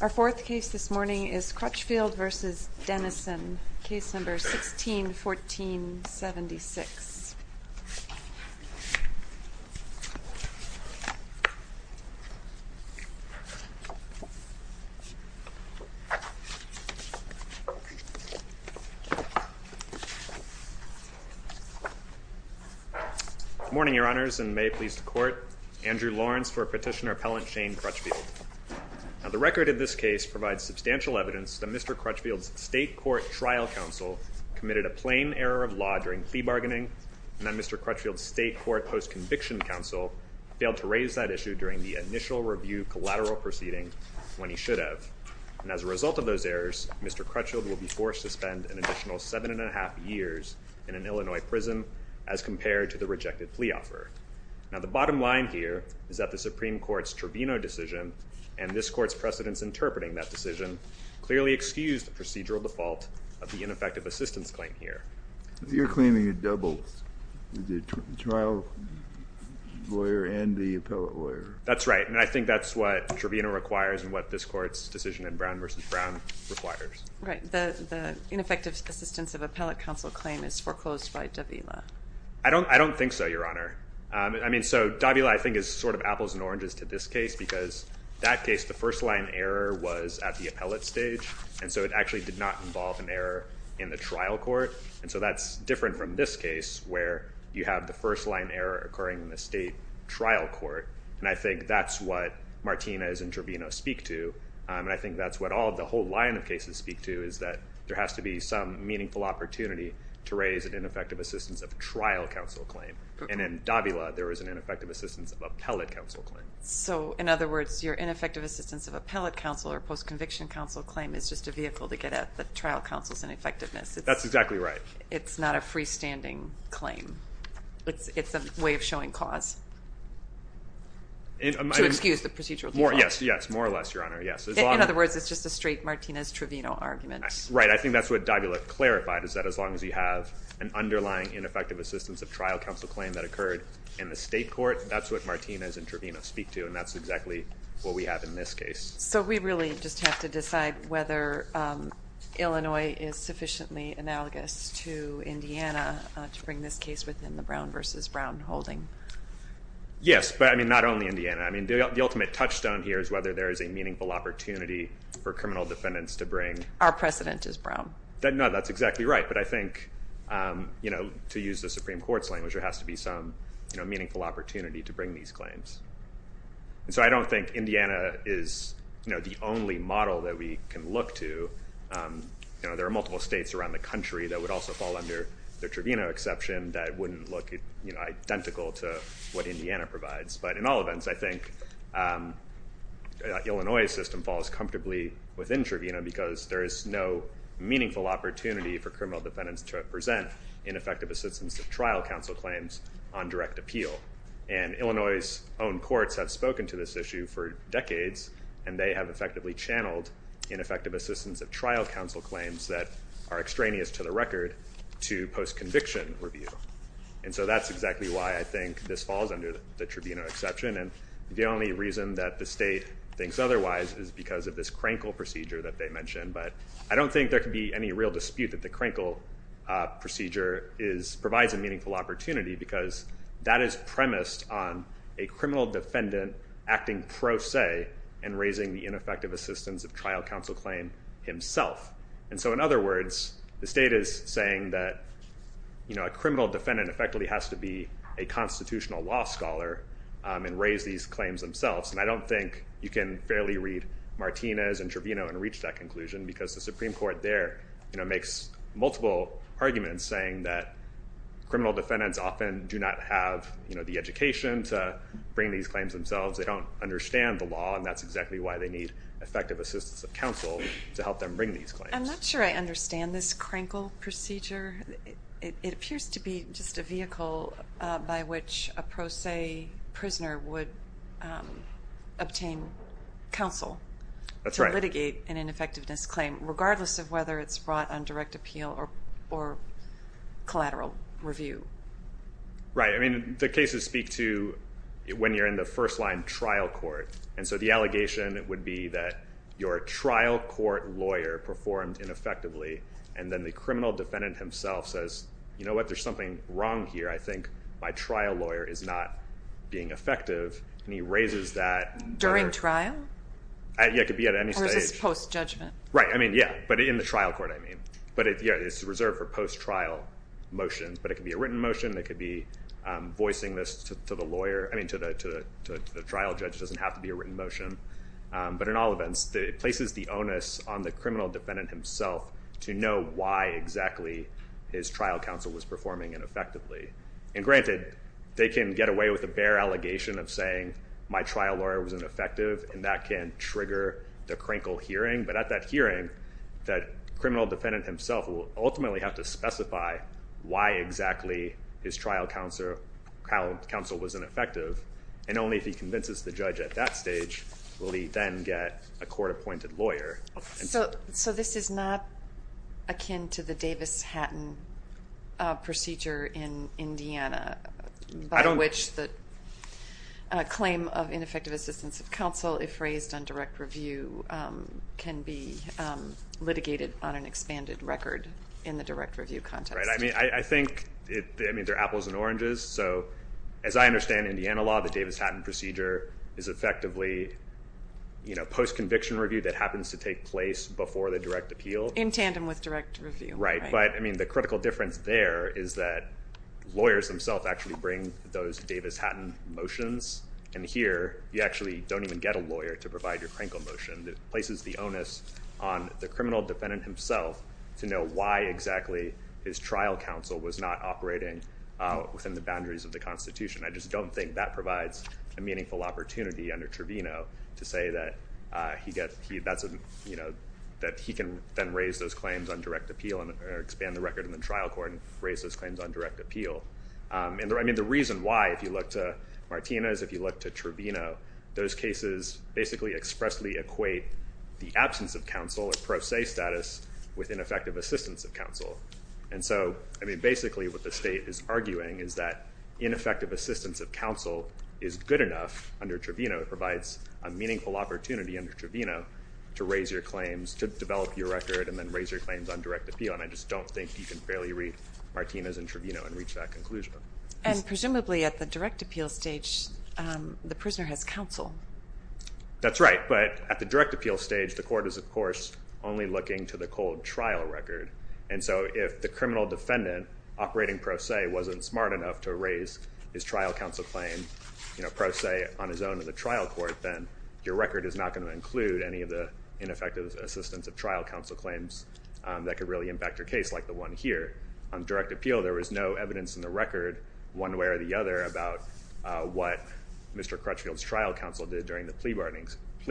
Our fourth case this morning is Crutchfield v. Dennison, Case No. 16-14-76. Andrew Lawrence Good morning, Your Honors, and may it please the Court, Andrew Lawrence for Petitioner Appellant Shane Crutchfield. The record of this case provides substantial evidence that Mr. Crutchfield's State Court trial counsel committed a plain error of law during plea bargaining, and that Mr. Crutchfield's State Court post-conviction counsel failed to raise that issue during the initial review collateral proceeding when he should have. As a result of those errors, Mr. Crutchfield will be forced to spend an additional seven and a half years in an Illinois prison as compared to the rejected plea offer. The bottom line here is that the Supreme Court's Trevino decision, and this Court's precedence interpreting that decision, clearly excused the procedural default of the ineffective assistance claim here. Andrew Lawrence You're claiming a double, the trial lawyer and the appellate lawyer. Shane Crutchfield That's right, and I think that's what Trevino requires and what this Court's decision in Brown v. Brown requires. Andrea Lange Right. The ineffective assistance of appellate counsel claim is foreclosed by Davila. Shane Crutchfield I don't think so, Your Honor. I mean, so Davila, I think, is sort of apples and oranges to this case because that case, the first-line error was at the appellate stage, and so it actually did not involve an error in the trial court, and so that's different from this case where you have the first-line error occurring in the state trial court, and I think that's what Martinez and Trevino speak to, and I think that's what all of the whole line of cases speak to is that there has to be some meaningful opportunity to raise an ineffective assistance of trial counsel claim, and in Davila, there was an ineffective assistance of appellate counsel claim. Andrea Lange So, in other words, your ineffective assistance of appellate counsel or post-conviction counsel claim is just a vehicle to get at the trial counsel's ineffectiveness. Shane Crutchfield That's exactly right. Andrea Lange It's not a freestanding claim. It's a way of showing cause to excuse the procedural default. Shane Crutchfield Yes, yes, more or less, Your Honor, yes. Andrea Lange In other words, it's just a straight Martinez-Trevino argument. Shane Crutchfield Right. I think that's what Davila clarified is that as long as you have an underlying ineffective assistance of trial counsel claim that occurred in the state court, that's what Martinez and Davila speak to, and that's exactly what we have in this case. Andrea Lange So we really just have to decide whether Illinois is sufficiently analogous to Indiana to bring this case within the Brown v. Brown holding. Shane Crutchfield Yes, but I mean, not only Indiana. I mean, the ultimate touchstone here is whether there is a meaningful opportunity for criminal defendants to bring. Andrea Lange Our precedent is Brown. Shane Crutchfield No, that's exactly right, but I think, you know, to use the Supreme Court's language, there has to be some, you know, meaningful opportunity to bring these claims. And so I don't think Indiana is, you know, the only model that we can look to. You know, there are multiple states around the country that would also fall under the Trevino exception that wouldn't look, you know, identical to what Indiana provides. But in all events, I think Illinois' system falls comfortably within Trevino because there is no meaningful opportunity for criminal defendants to present ineffective assistance of trial counsel claims on direct appeal. And Illinois' own courts have spoken to this issue for decades, and they have effectively channeled ineffective assistance of trial counsel claims that are extraneous to the record to post-conviction review. And so that's exactly why I think this falls under the Trevino exception. And the only reason that the state thinks otherwise is because of this Krankel procedure that they mentioned. But I don't think there can be any real dispute that the Krankel procedure is, provides a meaningful opportunity because that is premised on a criminal defendant acting pro se and raising the ineffective assistance of trial counsel claim himself. And so in other words, the state is saying that, you know, a criminal defendant effectively has to be a constitutional law scholar and raise these claims themselves. And I don't think you can fairly read Martinez and Trevino and reach that conclusion because the Supreme Court there, you know, makes multiple arguments saying that criminal defendants often do not have, you know, the education to bring these claims themselves. They don't understand the law, and that's exactly why they need effective assistance of counsel to help them bring these claims. I'm not sure I understand this Krankel procedure. It appears to be just a vehicle by which a pro se prisoner would obtain counsel to litigate an ineffectiveness claim, regardless of whether it's brought on direct appeal or collateral review. Right. I mean, the cases speak to when you're in the first line trial court. And so the allegation would be that your trial court lawyer performed ineffectively, and then the criminal defendant himself says, you know what, there's something wrong here. I think my trial lawyer is not being effective. And he raises that during trial. It could be at any stage post judgment. Right. I mean, yeah. But in the trial court, I mean, but it's reserved for post trial motions, but it could be a written motion that could be voicing this to the lawyer. I mean, to the trial judge doesn't have to be a written motion. But in all events, it places the onus on the criminal defendant himself to know why exactly his trial counsel was performing ineffectively. And granted, they can get away with a bare allegation of saying my trial lawyer was ineffective, and that can trigger the Krankel hearing. But at that hearing, that criminal defendant himself will ultimately have to specify why exactly his trial counsel was ineffective. And only if he convinces the judge at that stage will he then get a court-appointed lawyer. So this is not akin to the Davis-Hatton procedure in Indiana, by which the claim of ineffective assistance of counsel, if raised on direct review, can be litigated on an expanded record in the direct review context. Right. I mean, I think, I mean, they're apples and oranges. So as I understand Indiana law, the Davis-Hatton procedure is effectively, you know, post-conviction review that happens to take place before the direct appeal. In tandem with direct review. Right. But, I mean, the critical difference there is that lawyers themselves actually bring those Davis-Hatton motions. And here, you actually don't even get a lawyer to provide your Krankel motion. It places the onus on the criminal defendant himself to know why exactly his trial counsel was not operating within the boundaries of the Constitution. I just don't think that provides a meaningful opportunity under Trevino to say that he can then raise those claims on direct appeal and expand the record in the trial court and raise those claims on direct appeal. And, I mean, the reason why, if you look to Martinez, if you look to Trevino, those cases basically expressly equate the absence of counsel or pro se status with ineffective assistance of counsel. And so, I mean, basically what the state is arguing is that ineffective assistance of counsel is good enough under Trevino, it provides a meaningful opportunity under Trevino to raise your claims, to develop your record, and then raise your claims on direct appeal. And I just don't think you can fairly read Martinez and Trevino and reach that conclusion. And presumably at the direct appeal stage, the prisoner has counsel. That's right. But at the direct appeal stage, the court is, of course, only looking to the cold trial record. And so, if the criminal defendant operating pro se wasn't smart enough to raise his trial counsel claim, you know, pro se on his own in the trial court, then your record is not going to include any of the ineffective assistance of trial counsel claims that could really impact your case like the one here. On direct appeal, there was no evidence in the record one way or the other about what Mr. Crutchfield's trial counsel did during the plea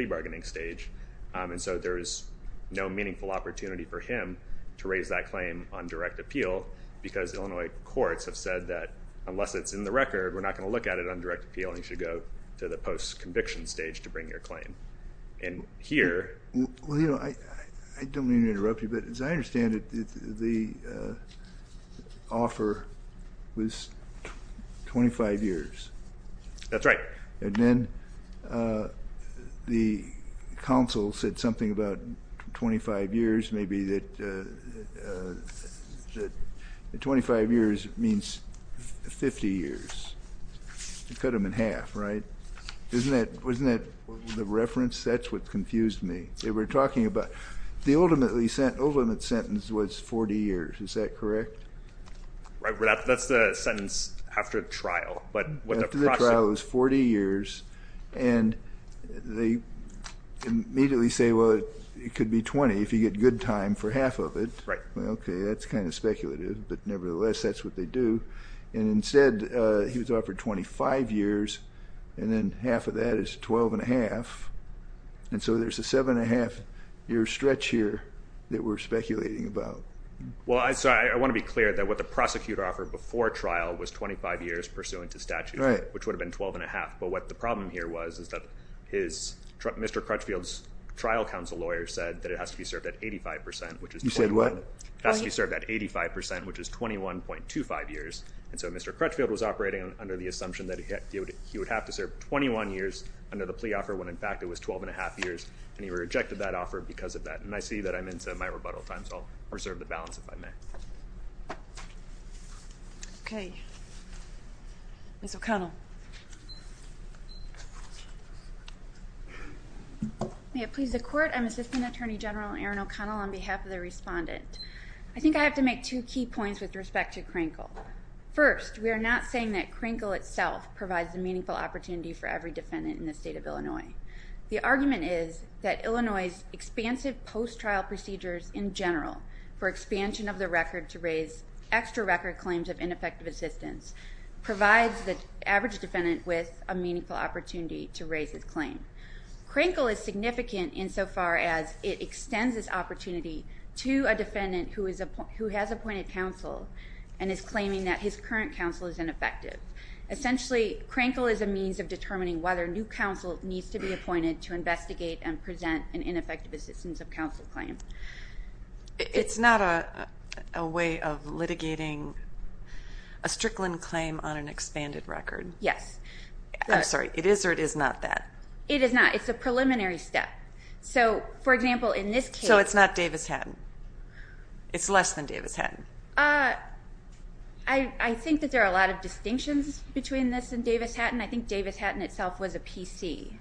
bargaining stage. And so, there is no meaningful opportunity for him to raise that claim on direct appeal because Illinois courts have said that unless it's in the record, we're not going to look at it on direct appeal and you should go to the post-conviction stage to bring your claim. And here... Well, you know, I don't mean to interrupt you, but as I understand it, the offer was 25 years. That's right. And then the counsel said something about 25 years, maybe that 25 years means 50 years. You cut them in half, right? Isn't that... wasn't that the reference? That's what confused me. They were talking about... the ultimate sentence was 40 years. Is that correct? Right. Well, that's the sentence after the trial. After the trial, it was 40 years, and they immediately say, well, it could be 20 if you get good time for half of it. Right. Okay, that's kind of speculative, but nevertheless, that's what they do. And instead, he was offered 25 years, and then half of that is 12 1⁄2. And so, there's a 7 1⁄2-year stretch here that we're speculating about. Well, I want to be clear that what the prosecutor offered before trial was 25 years pursuing into statute, which would have been 12 1⁄2. But what the problem here was is that Mr. Crutchfield's trial counsel lawyer said that it has to be served at 85 percent, which is... You said what? It has to be served at 85 percent, which is 21.25 years, and so Mr. Crutchfield was operating under the assumption that he would have to serve 21 years under the plea offer, when in fact it was 12 1⁄2 years, and he rejected that offer because of that. And I see that I'm into my rebuttal time, so I'll reserve the balance if I may. Okay. Ms. O'Connell. May it please the Court, I'm Assistant Attorney General Erin O'Connell on behalf of the Respondent. I think I have to make two key points with respect to Krinkle. First, we are not saying that Krinkle itself provides a meaningful opportunity for every defendant in the state of Illinois. The argument is that Illinois's expansive post-trial procedures in general for expansion of the record to raise extra record claims of ineffective assistance provides the average defendant with a meaningful opportunity to raise his claim. Krinkle is significant insofar as it extends this opportunity to a defendant who has appointed counsel and is claiming that his current counsel is ineffective. Essentially Krinkle is a means of determining whether new counsel needs to be appointed to investigate and present an ineffective assistance of counsel claim. It's not a way of litigating a Strickland claim on an expanded record. Yes. I'm sorry, it is or it is not that? It is not. It's a preliminary step. So, for example, in this case... So it's not Davis-Hatton? It's less than Davis-Hatton? I think that there are a lot of distinctions between this and Davis-Hatton. I think Davis-Hatton itself was a PC.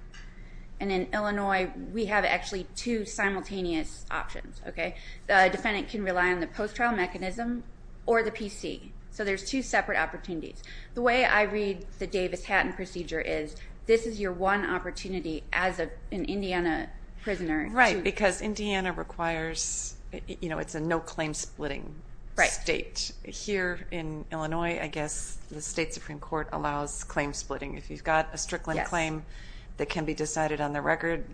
And in Illinois, we have actually two simultaneous options, okay? The defendant can rely on the post-trial mechanism or the PC. So there's two separate opportunities. The way I read the Davis-Hatton procedure is this is your one opportunity as an Indiana prisoner. Right, because Indiana requires, you know, it's a no-claim-splitting state. Here in Illinois, I guess the state Supreme Court allows claim-splitting. If you've got a Strickland claim that can be decided on the record,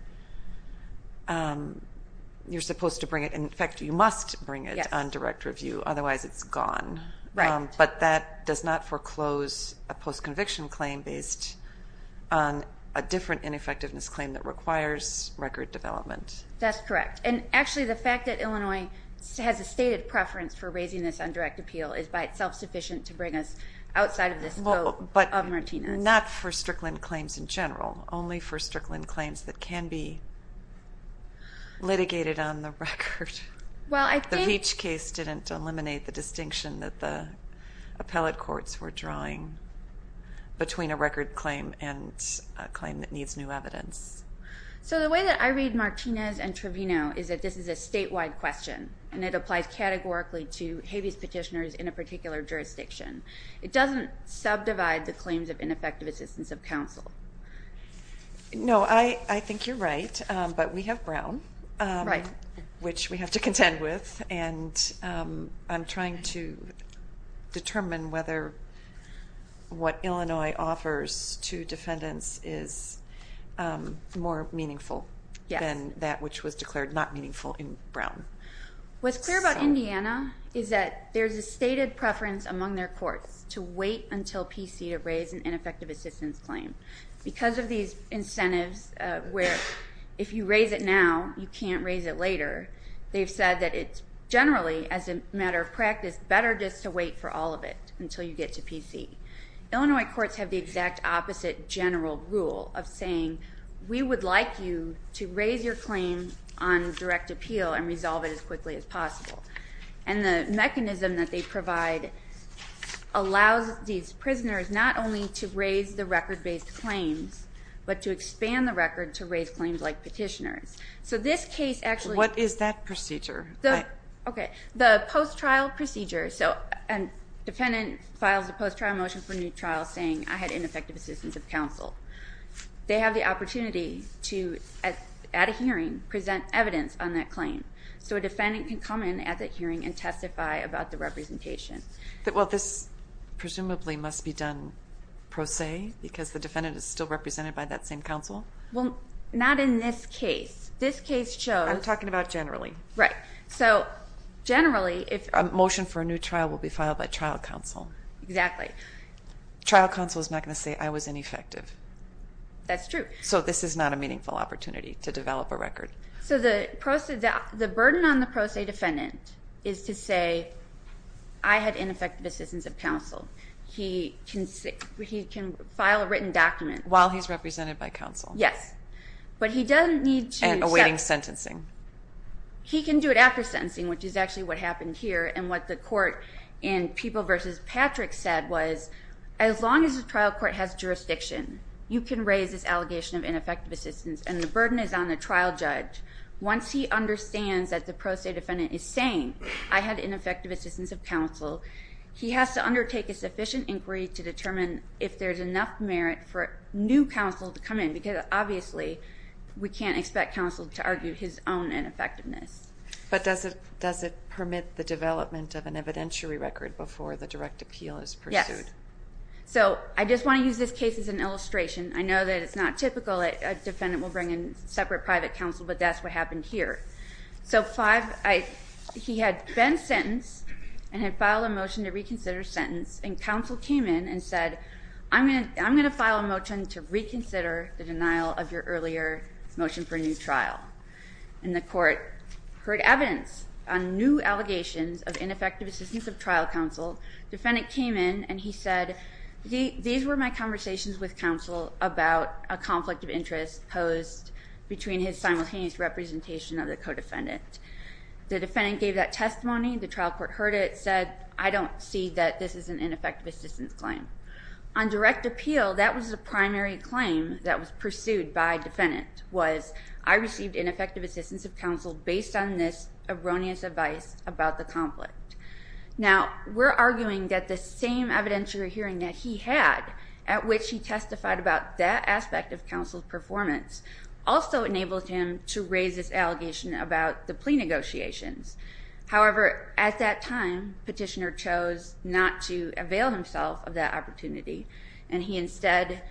you're supposed to bring it. In fact, you must bring it on direct review, otherwise it's gone. Right. But that does not foreclose a post-conviction claim based on a different ineffectiveness claim that requires record development. That's correct. And actually, the fact that Illinois has a stated preference for raising this on direct appeal is by itself sufficient to bring us outside of the scope of Martinez. Not for Strickland claims in general, only for Strickland claims that can be litigated on the record. Well, I think... The Veatch case didn't eliminate the distinction that the appellate courts were drawing between a record claim and a claim that needs new evidence. So the way that I read Martinez and Trevino is that this is a statewide question, and it applies categorically to habeas petitioners in a particular jurisdiction. It doesn't subdivide the claims of ineffective assistance of counsel. No, I think you're right, but we have Brown, which we have to contend with, and I'm trying to determine whether what Illinois offers to defendants is more meaningful than that What's clear about Indiana is that there's a stated preference among their courts to wait until PC to raise an ineffective assistance claim. Because of these incentives where if you raise it now, you can't raise it later, they've said that it's generally, as a matter of practice, better just to wait for all of it until you get to PC. Illinois courts have the exact opposite general rule of saying, we would like you to raise your claim on direct appeal and resolve it as quickly as possible. And the mechanism that they provide allows these prisoners not only to raise the record-based claims, but to expand the record to raise claims like petitioners. So this case actually What is that procedure? Okay, the post-trial procedure. So a defendant files a post-trial motion for a new trial saying, I had ineffective assistance of counsel. They have the opportunity to, at a hearing, present evidence on that claim. So a defendant can come in at that hearing and testify about the representation. This presumably must be done pro se, because the defendant is still represented by that same counsel? Well, not in this case. This case shows I'm talking about generally. Right. So, generally, if A motion for a new trial will be filed by trial counsel. Exactly. Trial counsel is not going to say, I was ineffective. That's true. So this is not a meaningful opportunity to develop a record. So the burden on the pro se defendant is to say, I had ineffective assistance of counsel. He can file a written document While he's represented by counsel. Yes. But he doesn't need to And awaiting sentencing. He can do it after sentencing, which is actually what happened here. And what the court in People v. Patrick said was, as long as the trial court has jurisdiction, you can raise this allegation of ineffective assistance, and the burden is on the trial judge. Once he understands that the pro se defendant is saying, I had ineffective assistance of counsel, he has to undertake a sufficient inquiry to determine if there's enough merit for new counsel to come in. Because obviously, we can't expect counsel to argue his own ineffectiveness. But does it permit the development of an evidentiary record before the direct appeal is pursued? Yes. So I just want to use this case as an illustration. I know that it's not typical that a defendant will bring in separate private counsel, but that's what happened here. So five, he had been sentenced and had filed a motion to reconsider sentence, and counsel came in and said, I'm going to file a motion to reconsider the denial of your earlier motion for a new trial. And the court heard evidence on new allegations of ineffective assistance of trial counsel. Defendant came in, and he said, these were my conversations with counsel about a conflict of interest posed between his simultaneous representation of the co-defendant. The defendant gave that testimony. The trial court heard it, said, I don't see that this is an ineffective assistance claim. On direct appeal, that was the primary claim that was pursued by defendant was, I received ineffective assistance of counsel based on this erroneous advice about the conflict. Now, we're arguing that the same evidentiary hearing that he had, at which he testified about that aspect of counsel's performance, also enabled him to raise this allegation about the plea negotiations. However, at that time, petitioner chose not to avail himself of that opportunity. And he instead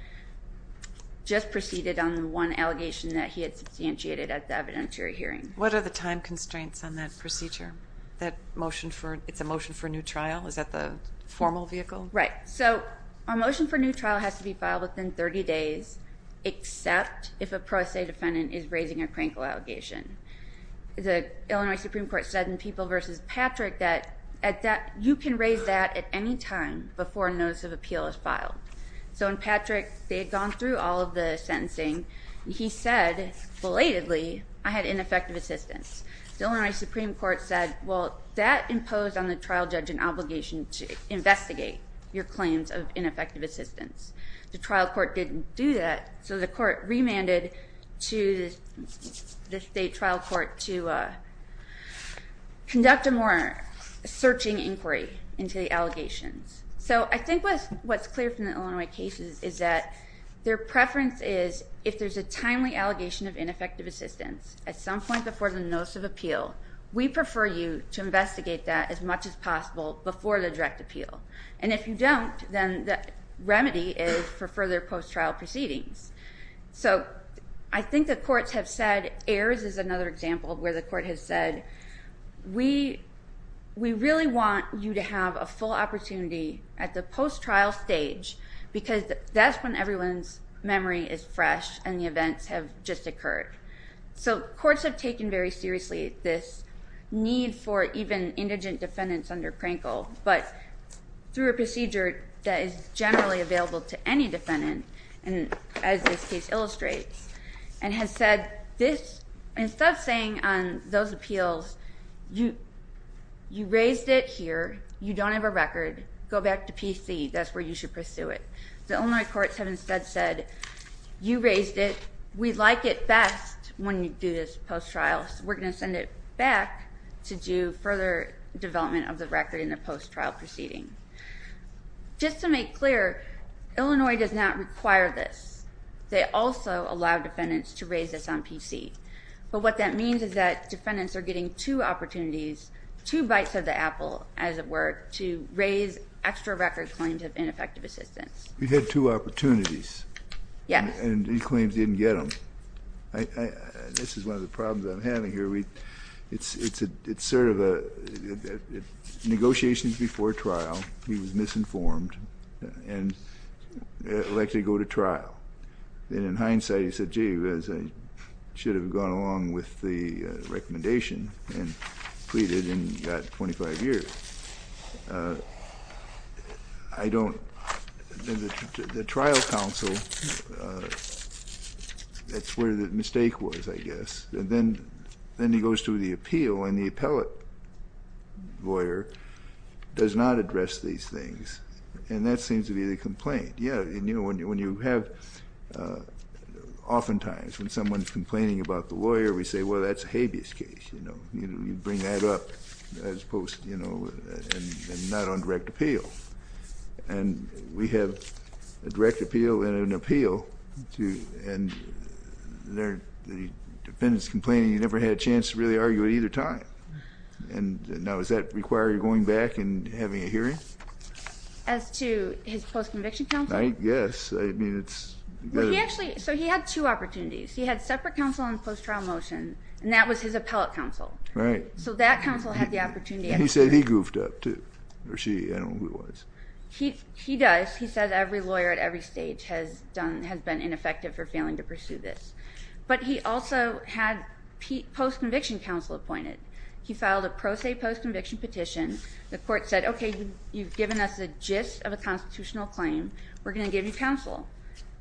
just proceeded on the one allegation that he had substantiated at the evidentiary hearing. What are the time constraints on that procedure? It's a motion for a new trial? Is that the formal vehicle? Right. So a motion for a new trial has to be filed within 30 days, except if a pro se defendant is raising a crankle allegation. The Illinois Supreme Court said in People v. Patrick that you can raise that at any time before a notice of appeal is filed. So in Patrick, they had gone through all of the sentencing, and he said, belatedly, I had ineffective assistance. The Illinois Supreme Court said, well, that imposed on the trial judge an obligation to investigate your claims of ineffective assistance. The trial court didn't do that, so the court remanded to the state trial court to conduct a more searching inquiry into the allegations. So I think what's clear from the Illinois cases is that their preference is, if there's a timely allegation of ineffective assistance at some point before the notice of appeal, we prefer you to investigate that as much as possible before the direct appeal. And if you don't, then the remedy is for further post-trial proceedings. So I think the courts have said, AERS is another example where the court has said, we really want you to have a full opportunity at the post-trial stage, because that's when everyone's memory is fresh and the events have just occurred. So courts have taken very seriously this need for even indigent defendants under crankle, but through a procedure that is generally available to any defendant, as this case illustrates, and has said, instead of saying on those appeals, you raised it here, you don't have a record, go back to PC, that's where you should pursue it. The Illinois courts have instead said, you raised it, we like it best when you do this post-trial, so we're going to send it back to do further development of the record in the post-trial proceeding. Just to make clear, Illinois does not require this. They also allow defendants to raise this on PC. But what that means is that defendants are getting two opportunities, two bites of the apple, as it were, to raise extra record claims of ineffective assistance. We've had two opportunities, and these claims, we didn't get them. This is one of the problems I'm having here. It's sort of a, negotiations before trial, he was misinformed, and elected to go to trial. And in hindsight, he said, gee, I should have gone along with the recommendation, and pleaded, and got 25 years. I don't, the trial counsel, that's where the mistake was, I guess. And then he goes to the appeal, and the appellate lawyer does not address these things. And that seems to be the complaint. Yeah, and you know, when you have, oftentimes, when someone's complaining about the lawyer, we say, well, that's a habeas case. You know, you bring that up as opposed, you know, and not on direct appeal. And we have a direct appeal, and an appeal, and there, the defendant's complaining, you never had a chance to really argue at either time. And now, does that require you going back and having a hearing? As to his post-conviction counsel? I guess, I mean, it's... Well, he actually, so he had two opportunities. He had separate counsel on the post-trial motion, and that was his appellate counsel. Right. So that counsel had the opportunity... He said he goofed up, too, or she, I don't know who it was. He does. He says every lawyer at every stage has been ineffective for failing to pursue this. But he also had post-conviction counsel appointed. He filed a pro se post-conviction petition. The court said, okay, you've given us the gist of a constitutional claim. We're going to give you counsel.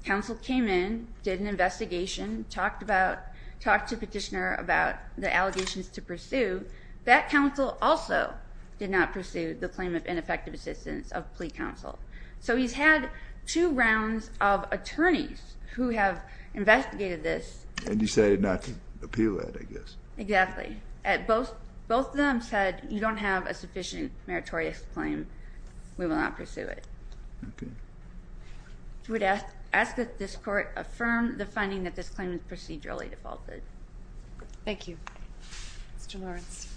Counsel came in, did an investigation, talked to the petitioner about the allegations to pursue. That counsel also did not pursue the claim of ineffective assistance of plea counsel. So he's had two rounds of attorneys who have investigated this. And decided not to appeal it, I guess. Exactly. Both of them said, you don't have a sufficient meritorious claim. We will not pursue it. Okay. I would ask that this court affirm the finding that this claim is procedurally defaulted. Thank you. Mr. Lawrence.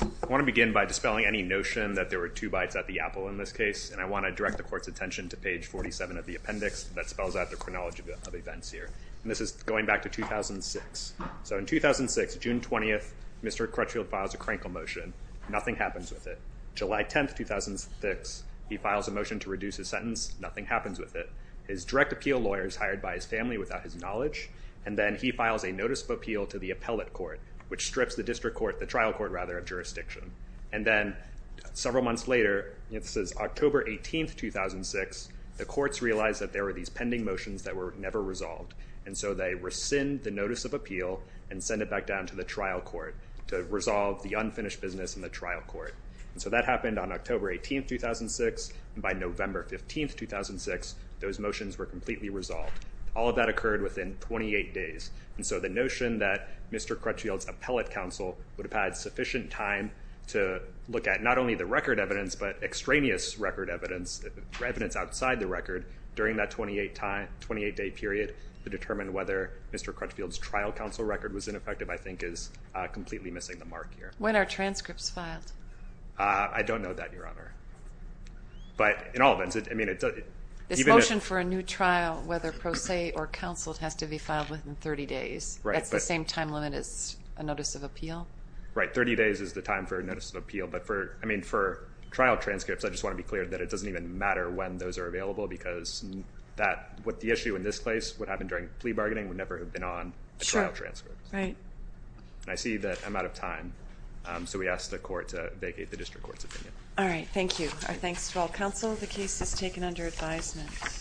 I want to begin by dispelling any notion that there were two bites at the apple in this case. And I want to direct the court's attention to page 47 of the appendix that spells out the chronology of events here. And this is going back to 2006. So in 2006, June 20th, Mr. Crutchfield files a crankle motion. Nothing happens with it. July 10th, 2006, he files a motion to reduce his sentence. His direct appeal lawyer is hired by his family without his knowledge. Then he files a notice of appeal to the appellate court, which strips the district court, the trial court rather, of jurisdiction. And then several months later, this is October 18th, 2006, the courts realized that there were these pending motions that were never resolved. And so they rescind the notice of appeal and send it back down to the trial court to resolve the unfinished business in the trial court. So that happened on October 18th, 2006. By November 15th, 2006, those motions were completely resolved. All of that occurred within 28 days. And so the notion that Mr. Crutchfield's appellate counsel would have had sufficient time to look at not only the record evidence, but extraneous record evidence, evidence outside the record, during that 28-day period to determine whether Mr. Crutchfield's trial counsel record was ineffective, I think, is completely missing the mark here. When are transcripts filed? I don't know that, Your Honor. But in all events, I mean, it doesn't... For a new trial, whether pro se or counsel, it has to be filed within 30 days. That's the same time limit as a notice of appeal? Right. 30 days is the time for a notice of appeal. But for, I mean, for trial transcripts, I just want to be clear that it doesn't even matter when those are available because what the issue in this case, what happened during plea bargaining, would never have been on a trial transcript. Right. And I see that I'm out of time. So we ask the court to vacate the district court's opinion. All right. Thank you. Our thanks to all counsel. The case is taken under advisement.